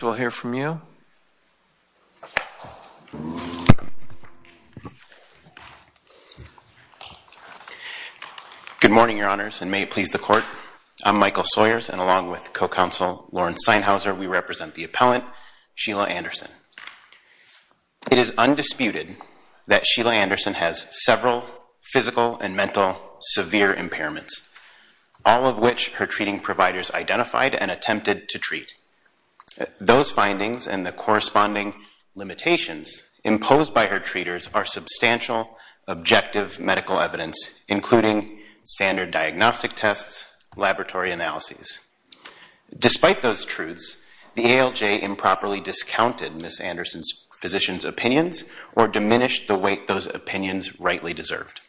We'll hear from you. Good morning, Your Honors, and may it please the Court. I'm Michael Sawyers, and along with co-counsel Lauren Steinhauser, we represent the appellant, Sheila Anderson. It is undisputed that Sheila Anderson has several physical and mental severe impairments, all of which her treating providers identified and attempted to treat. Those findings and the corresponding limitations imposed by her treaters are substantial, objective medical evidence, including standard diagnostic tests, laboratory analyses. Despite those truths, the ALJ improperly discounted Ms. Anderson's physician's opinions or diminished the weight those opinions rightly deserved.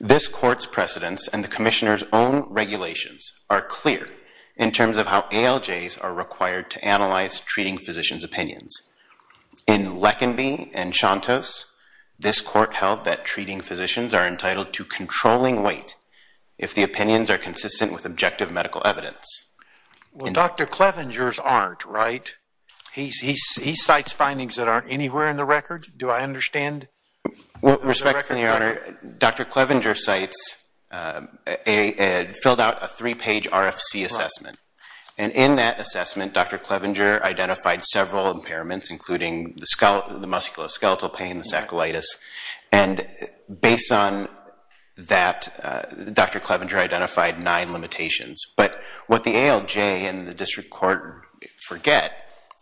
This Court's precedents and the Commissioner's own regulations are clear in terms of how ALJs are required to analyze treating physicians' opinions. In Leckinby and Chantos, this Court held that treating physicians are entitled to controlling weight if the opinions are consistent with objective medical evidence. Well, Dr. Clevenger's aren't, right? He cites findings that aren't anywhere in the record. Do I understand? With respect, Your Honor, Dr. Clevenger cites, filled out a three-page RFC assessment, and in that assessment, Dr. Clevenger identified several impairments, including the musculoskeletal pain, the saccolitis, and based on that, Dr. Clevenger identified nine limitations. But what the ALJ and the District Court forget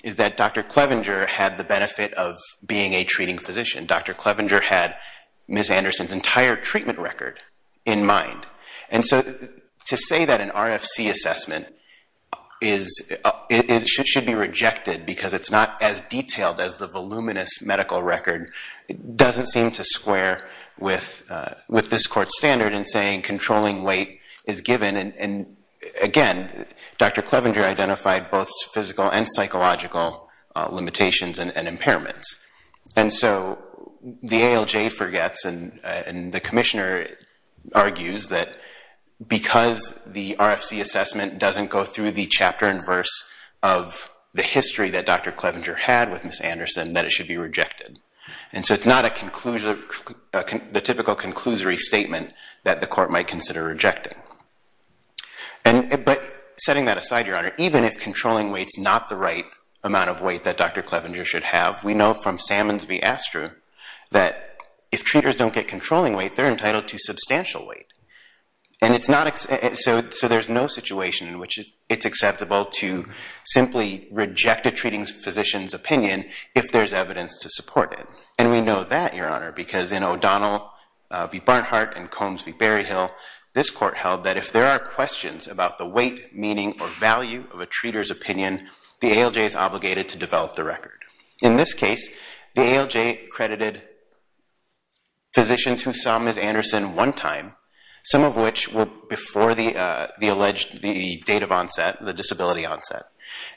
is that Dr. Clevenger had the benefit of being a treating physician. Dr. Clevenger had Ms. Anderson's entire treatment record in mind. And so to say that an RFC assessment should be rejected because it's not as detailed as the voluminous medical record doesn't seem to square with this Court's standard in saying controlling weight is given. And again, Dr. Clevenger identified both physical and psychological limitations and impairments. And so the ALJ forgets and the Commissioner argues that because the RFC assessment doesn't go through the chapter and verse of the history that Dr. Clevenger had with Ms. Anderson, that it should be rejected. And so it's not the typical conclusory statement that the Court might consider rejecting. But setting that aside, Your Honor, even if controlling weight's not the right amount of weight that Dr. Clevenger should have, we know from Salmon's v. Astru that if treaters don't get controlling weight, they're entitled to substantial weight. And so there's no situation in which it's acceptable to simply reject a treating physician's opinion if there's evidence to support it. And we know that, Your Honor, because in O'Donnell v. Barnhart and Combs v. Berryhill, this Court held that if there are questions about the weight, meaning, or value of a treater's opinion, the ALJ is obligated to develop the record. In this case, the ALJ credited physicians who saw Ms. Anderson one time, some of which were before the alleged date of onset, the disability onset,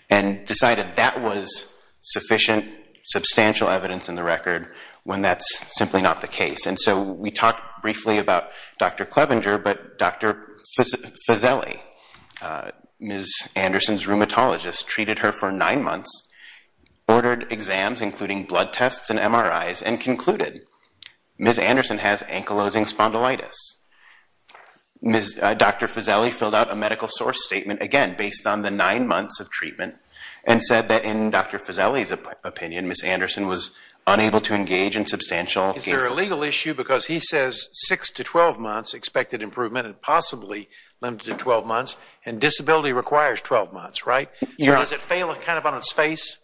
and decided that was sufficient, substantial evidence in the record when that's simply not the case. And so we talked briefly about Dr. Clevenger, but Dr. Fazelli, Ms. Anderson's rheumatologist, treated her for nine months, ordered exams, including blood tests and MRIs, and concluded Ms. Anderson has ankylosing spondylitis. Dr. Fazelli filled out a medical source statement, again, based on the nine months of treatment, and said that in Dr. Fazelli's opinion, Ms. Anderson was unable to engage in substantial engagement. Is there a legal issue? Because he says six to 12 months expected improvement and possibly limited to 12 months, and disability requires 12 months, right? So does it fail kind of on its face?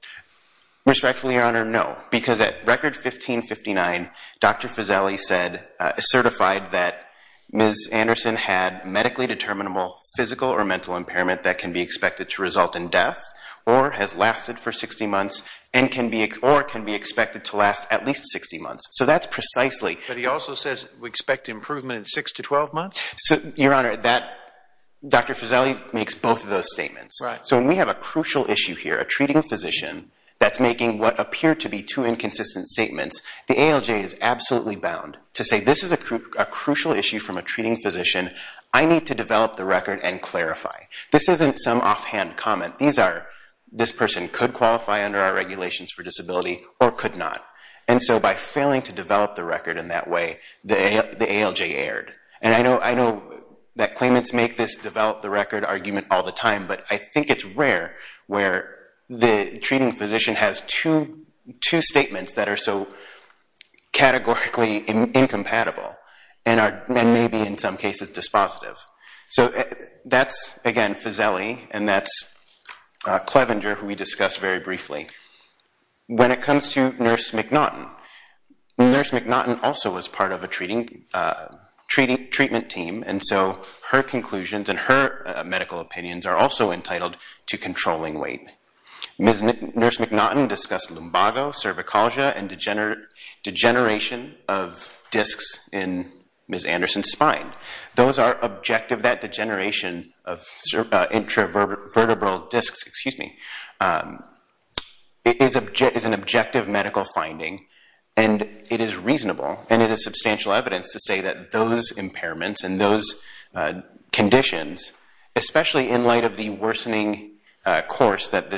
Respectfully, Your Honor, no. Because at record 1559, Dr. Fazelli said, certified that Ms. Anderson had medically determinable physical or mental impairment that can be expected to result in death, or has lasted for 60 months, and can be, or can be expected to last at least 60 months. So that's precisely... But he also says we expect improvement in six to 12 months? So, Your Honor, that, Dr. Fazelli makes both of those statements. Right. So when we have a crucial issue here, a treating physician that's making what appear to be two a crucial issue from a treating physician, I need to develop the record and clarify. This isn't some offhand comment. These are, this person could qualify under our regulations for disability or could not. And so by failing to develop the record in that way, the ALJ erred. And I know that claimants make this develop the record argument all the time, but I think it's two statements that are so categorically incompatible and maybe in some cases dispositive. So that's, again, Fazelli, and that's Clevenger, who we discussed very briefly. When it comes to Nurse McNaughton, Nurse McNaughton also was part of a treatment team, and so her conclusions and her medical opinions are also entitled to controlling weight. Nurse McNaughton discussed lumbago, cervicalgia, and degeneration of discs in Ms. Anderson's spine. Those are objective, that degeneration of intravertebral discs, excuse me, is an objective medical finding, and it is reasonable, and it is substantial evidence to say that those impairments and those conditions, especially in light of the worsening course that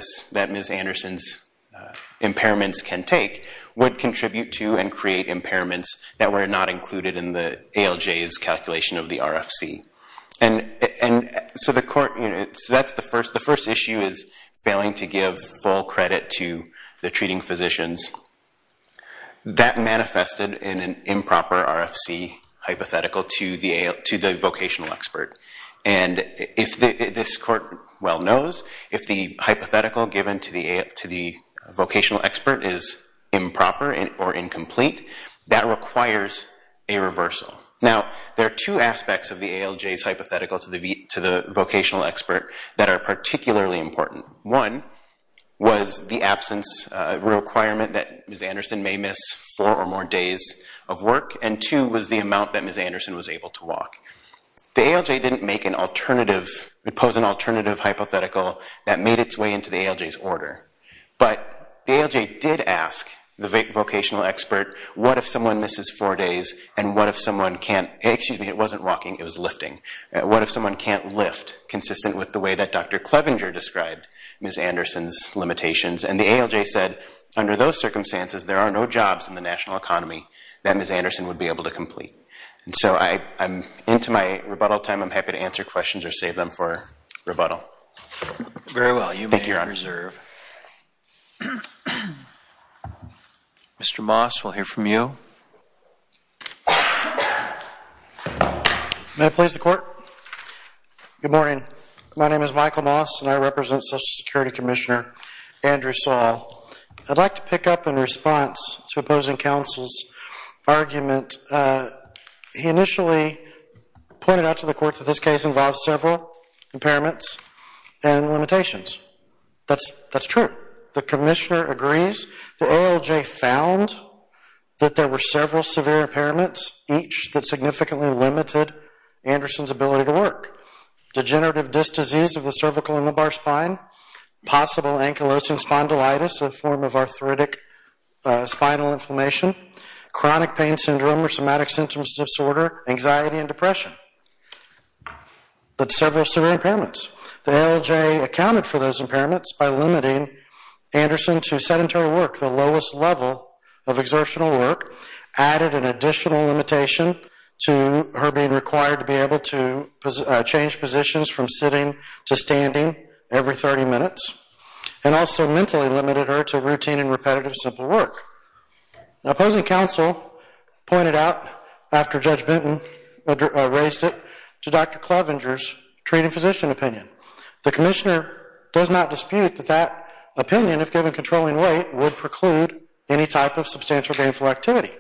Ms. Anderson's impairments can take, would contribute to and create impairments that were not included in the ALJ's calculation of the RFC. And so the court, you know, that's the first, the first issue is failing to give full credit to the treating physicians. That manifested in an improper RFC hypothetical to the vocational expert, and if this court well knows, if the hypothetical given to the vocational expert is improper or incomplete, that requires a reversal. Now, there are two aspects of the ALJ's hypothetical to the vocational expert that are particularly important. One was the absence requirement that Ms. Anderson may miss four or more days of work, and two was the amount that Ms. Anderson was able to walk. The ALJ didn't make an alternative, it posed an alternative hypothetical that made its way into the ALJ's order, but the ALJ did ask the vocational expert, what if someone misses four days, and what if someone can't, excuse me, it wasn't walking, it was lifting, what if someone can't lift, consistent with the way that Dr. Clevenger described Ms. Anderson's limitations, and the ALJ said, under those circumstances, there are no jobs in the national economy that Ms. Anderson would be able to complete, and so I'm into my rebuttal time, I'm happy to answer questions or save them for rebuttal. Very well, you may reserve. Mr. Moss, we'll hear from you. May I please the court? Good morning, my name is Michael Moss, and I represent Social Security Commissioner Andrew Saul. I'd like to pick up in response to opposing counsel's argument. He initially pointed out to the court that this case involved several impairments and limitations. That's true. The commissioner agrees. The ALJ found that there were several severe impairments, each that significantly limited Anderson's ability to work. Degenerative disc disease of the cervical and lumbar spine, possible ankylosing spondylitis, a form of arthritic spinal inflammation, chronic pain syndrome or somatic symptoms disorder, anxiety and depression, but several severe impairments. The ALJ accounted for those impairments by limiting Anderson to sedentary work, the lowest level of exertional work, added an additional limitation to her being required to be able to change positions from sitting to standing every 30 minutes, and also mentally limited her to routine and repetitive simple work. Opposing counsel pointed out, after Judge Benton raised it, to Dr. Klovenger's treating physician opinion. The commissioner does not dispute that that opinion, if given controlling weight, would preclude any type of substantial gainful activity.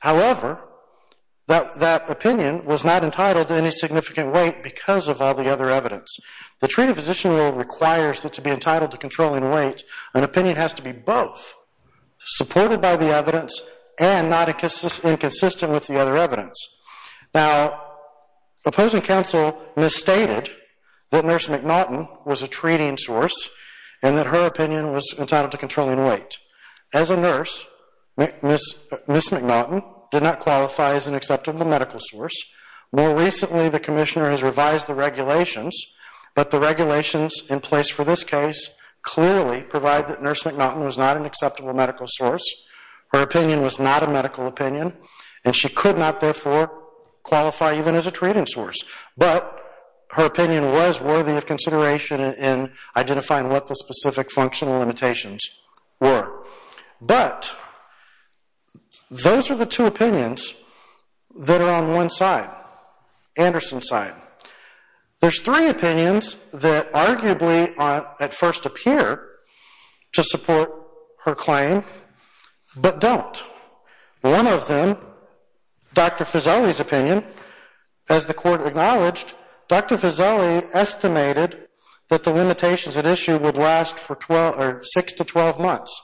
However, that opinion was not entitled to any significant weight because of all the other evidence. The treating physician rule requires that to be entitled to controlling weight, an opinion has to be both supported by the evidence and not inconsistent with the other evidence. Now, opposing counsel misstated that Nurse McNaughton was a treating source and that her opinion was entitled to weight. As a nurse, Ms. McNaughton did not qualify as an acceptable medical source, more recently the commissioner has revised the regulations, but the regulations in place for this case clearly provide that Nurse McNaughton was not an acceptable medical source, her opinion was not a medical opinion, and she could not therefore qualify even as a treating source, but her opinion was worthy of consideration in identifying what the specific functional limitations were. But, those are the two opinions that are on one side, Anderson's side. There's three opinions that arguably at first appear to support her claim, but don't. One of them, Dr. Fuseli's opinion, as the court acknowledged, Dr. Fuseli estimated that the six to 12 months,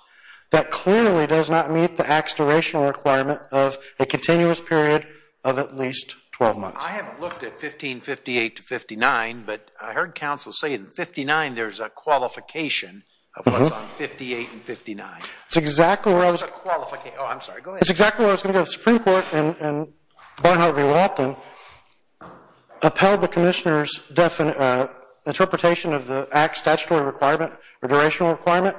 that clearly does not meet the act's durational requirement of a continuous period of at least 12 months. I haven't looked at 1558 to 59, but I heard counsel say in 59 there's a qualification of what's on 58 and 59. It's exactly where I was going to go, the Supreme Court and Barnhart v. Walton upheld the commissioner's interpretation of the act's statutory requirement, or durational requirement,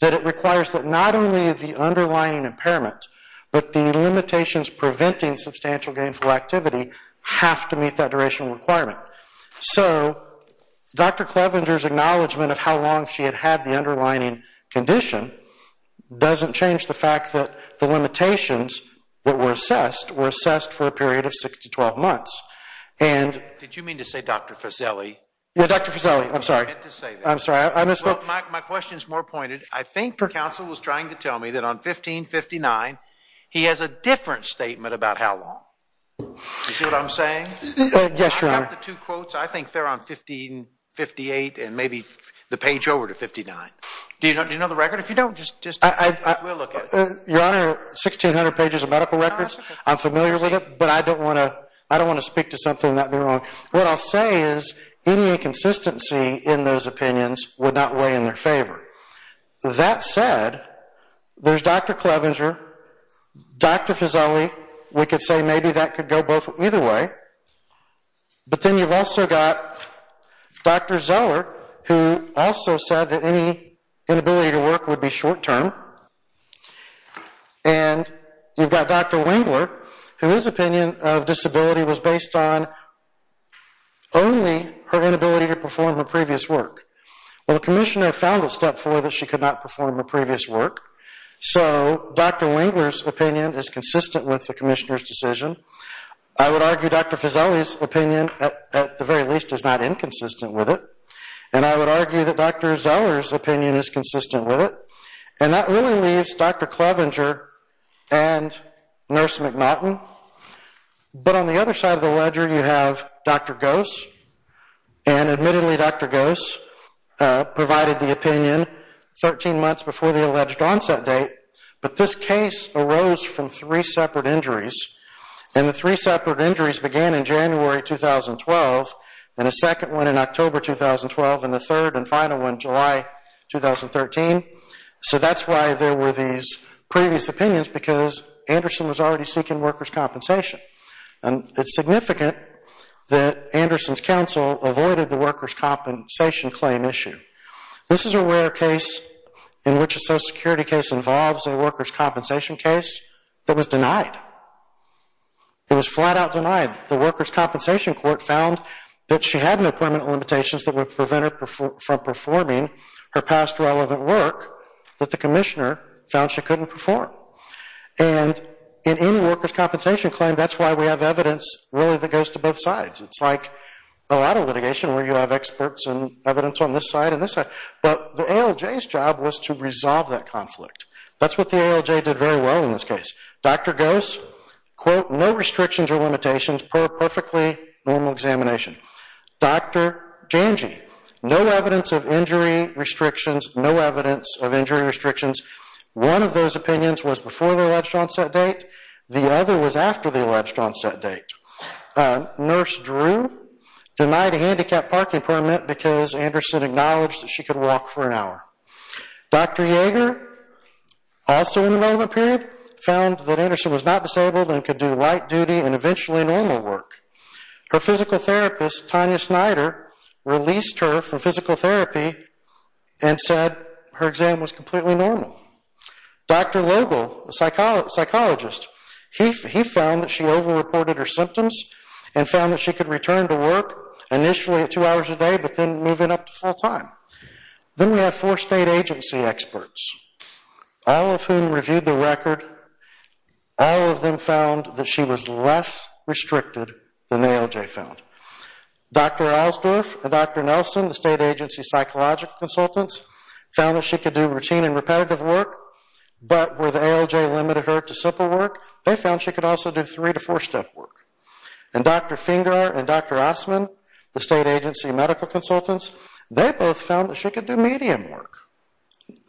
that it requires that not only the underlying impairment, but the limitations preventing substantial gainful activity have to meet that durational requirement. So, Dr. Clevenger's acknowledgment of how long she had had the underlining condition doesn't change the fact that the limitations that were assessed were assessed for a period of six to 12 months. My question is more pointed. I think counsel was trying to tell me that on 1559 he has a different statement about how long. You see what I'm saying? Yes, your honor. I think they're on 1558 and maybe the page over to 59. Do you know the record? If you don't, just we'll look at it. Your honor, 1600 pages of medical records. I'm familiar with it, but I don't want to I don't want to speak to something that may be wrong. What I'll say is any inconsistency in those opinions would not weigh in their favor. That said, there's Dr. Clevenger, Dr. Fuseli, we could say maybe that could go both either way, but then you've also got Dr. Zeller, who also said that any inability to work would be short-term, and you've got Dr. Wingler, whose opinion of disability was Well, the commissioner found at step four that she could not perform her previous work, so Dr. Wingler's opinion is consistent with the commissioner's decision. I would argue Dr. Fuseli's opinion, at the very least, is not inconsistent with it, and I would argue that Dr. Zeller's opinion is consistent with it, and that really leaves Dr. Clevenger and Nurse McNaughton, but on the other side of the ledger you have Dr. Gose, and admittedly Dr. Gose provided the opinion 13 months before the alleged onset date, but this case arose from three separate injuries, and the three separate injuries began in January 2012, and a second one in October 2012, and the third and final one July 2013, so that's why there were these previous opinions, because Anderson was already seeking workers' compensation, and it's avoided the workers' compensation claim issue. This is a rare case in which a social security case involves a workers' compensation case that was denied. It was flat-out denied. The workers' compensation court found that she had no permanent limitations that would prevent her from performing her past relevant work that the commissioner found she couldn't perform, and in any workers' compensation claim, that's why we have evidence really that goes to both sides. It's like a lot of litigation where you have experts and evidence on this side and this side, but the ALJ's job was to resolve that conflict. That's what the ALJ did very well in this case. Dr. Gose, quote, no restrictions or limitations, perfectly normal examination. Dr. Janji, no evidence of injury restrictions, no evidence of injury restrictions. One of those opinions was before the alleged onset date. The other was after the alleged onset date. Nurse Drew denied a handicapped parking permit because Anderson acknowledged that she could walk for an hour. Dr. Yeager, also in the moment period, found that Anderson was not disabled and could do light duty and eventually normal work. Her physical therapist, Tanya Snyder, released her from physical therapy and said her exam was completely normal. Dr. Logel, a psychologist, he found that she over-reported her symptoms and found that she could return to work initially at two hours a day but then move in up to full time. Then we have four state agency experts, all of whom reviewed the record. All of them found that she was less restricted than the ALJ found. Dr. Alsdorf and Dr. Nelson, the state agency psychological consultants, found that she could do routine and repetitive work, but where the ALJ limited her to simple work, they found she could also do three to four step work. And Dr. Fingar and Dr. Osman, the state agency medical consultants, they both found that she could do medium work,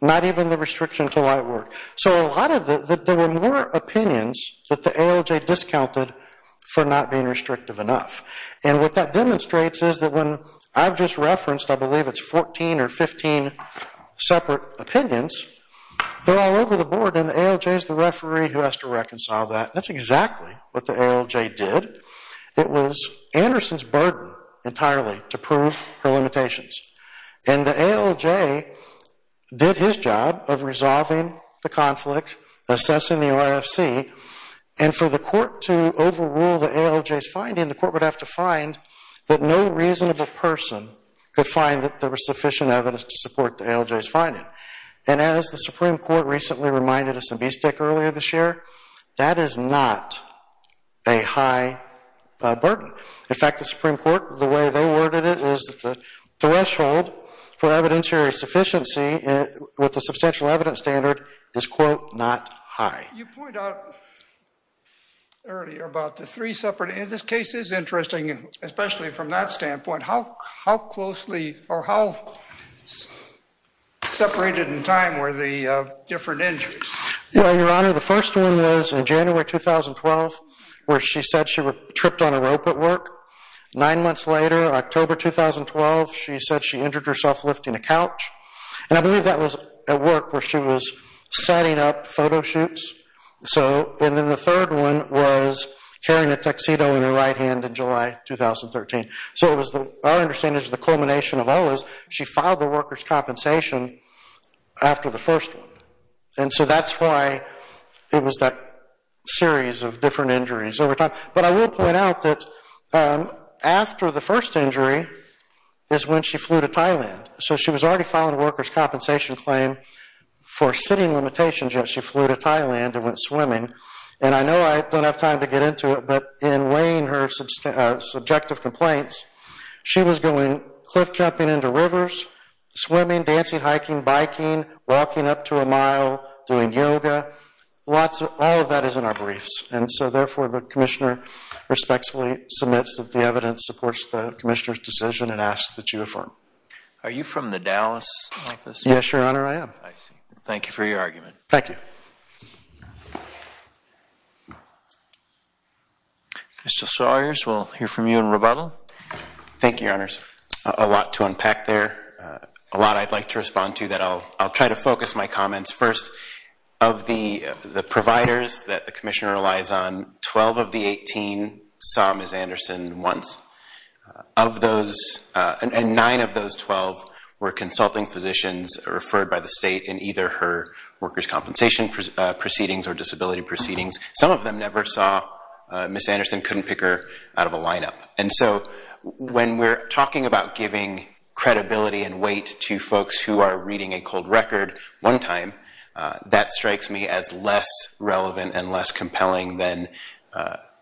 not even the restriction to light work. So a lot of the, there were more opinions that the ALJ discounted for not being restrictive enough. And what that demonstrates is that when I've just referenced, I believe it's 14 or 15 separate opinions, they're all over the board and the ALJ is the referee who has to reconcile that. That's exactly what the ALJ did. It was Anderson's burden entirely to prove her limitations. And the ALJ did his job of resolving the conflict, assessing the RFC, and for the court to overrule the ALJ's finding, the court would have to find that no reasonable person could find that there was sufficient evidence to support the ALJ's finding. And as the Supreme Court recently reminded us in Beastick earlier this year, that is not a high burden. In fact, the Supreme Court, the way they worded it is that the threshold for evidentiary sufficiency with a substantial evidence standard is, quote, not high. You point out earlier about the three separate, and this case is interesting, especially from that standpoint. How closely or how separated in time were the different injuries? Well, Your Honor, the first one was in January 2012, where she said she tripped on a rope at work. Nine months later, October 2012, she said she injured herself lifting a couch. And I believe that was at work, where she was setting up photo shoots. And then the third one was carrying a tuxedo in her right hand in July 2013. So our understanding is the culmination of all this, she filed the workers' compensation after the first one. And so that's why it was that series of different injuries over time. But I will point out that after the first injury is when she flew to Thailand. So she was already filing a workers' compensation claim for sitting limitations, yet she flew to Thailand and went swimming. And I know I don't have time to get into it, but in weighing her subjective complaints, she was going cliff jumping into rivers, swimming, dancing, hiking, biking, walking up to a mile, doing yoga. All of that is in our briefs. And so therefore, the commissioner respectfully submits that the evidence supports the commissioner's decision and asks that you affirm. Are you from the Dallas office? Yes, Your Honor, I am. I see. Thank you for your argument. Thank you. Mr. Sawyers, we'll hear from you in rebuttal. Thank you, Your Honors. A lot to unpack there. A lot I'd like to respond to that I'll try to focus my comments. First, of the providers that the commissioner relies on, 12 of the 18 saw Ms. Anderson once. Of those, and nine of those 12 were consulting physicians referred by the state in either her workers' compensation proceedings or disability proceedings. Some of them never saw Ms. Anderson, couldn't pick her out of a lineup. And so when we're talking about giving credibility and weight to folks who are reading a cold record one time, that strikes me as less relevant and less compelling than,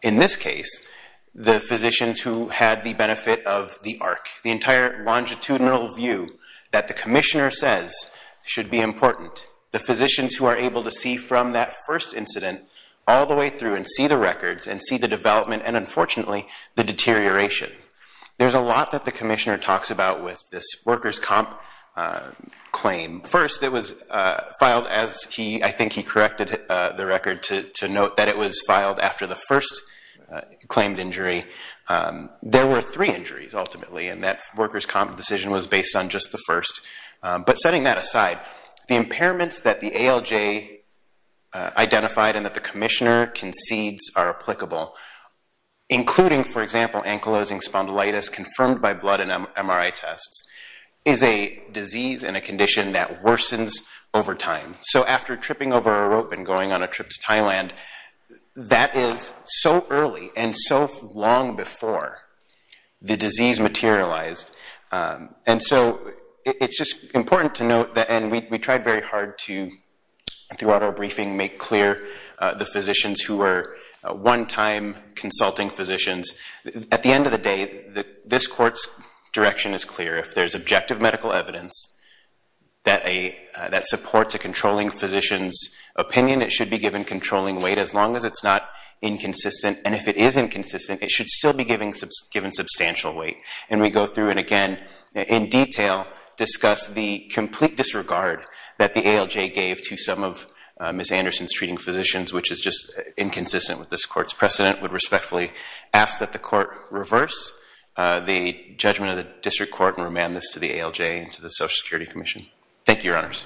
in this case, the physicians who had the benefit of the arc. The entire longitudinal view that the commissioner says should be important. The physicians who are able to see from that first incident all the way through and see the records and see the development and, unfortunately, the deterioration. There's a lot that the commissioner talks about with this workers' comp claim. First, it was filed as he—I think he corrected the record to note that it was filed after the first claimed injury. There were three injuries, ultimately, and that workers' comp decision was based on just the first. But setting that aside, the impairments that the ALJ identified and that the commissioner concedes are applicable, including, for example, ankylosing spondylitis confirmed by blood and MRI tests, is a disease and a condition that worsens over time. So after tripping over a rope and going on a trip to Thailand, that is so early and so long before the disease materialized. And so it's just important to note that—and we tried very hard to, throughout our briefing, make clear the physicians who were one-time consulting physicians. At the end of the day, this court's direction is clear. If there's objective medical evidence that supports a controlling physician's opinion, it should be given controlling weight as long as it's not inconsistent. And if it is inconsistent, it should still be given substantial weight. And we go through and, again, in detail discuss the complete disregard that the ALJ gave to some of Ms. Anderson's treating physicians, which is just inconsistent with this court's precedent. We respectfully ask that the court reverse the judgment of the district court and remand this to the ALJ and to the Social Security Commission. Thank you, Your Honors.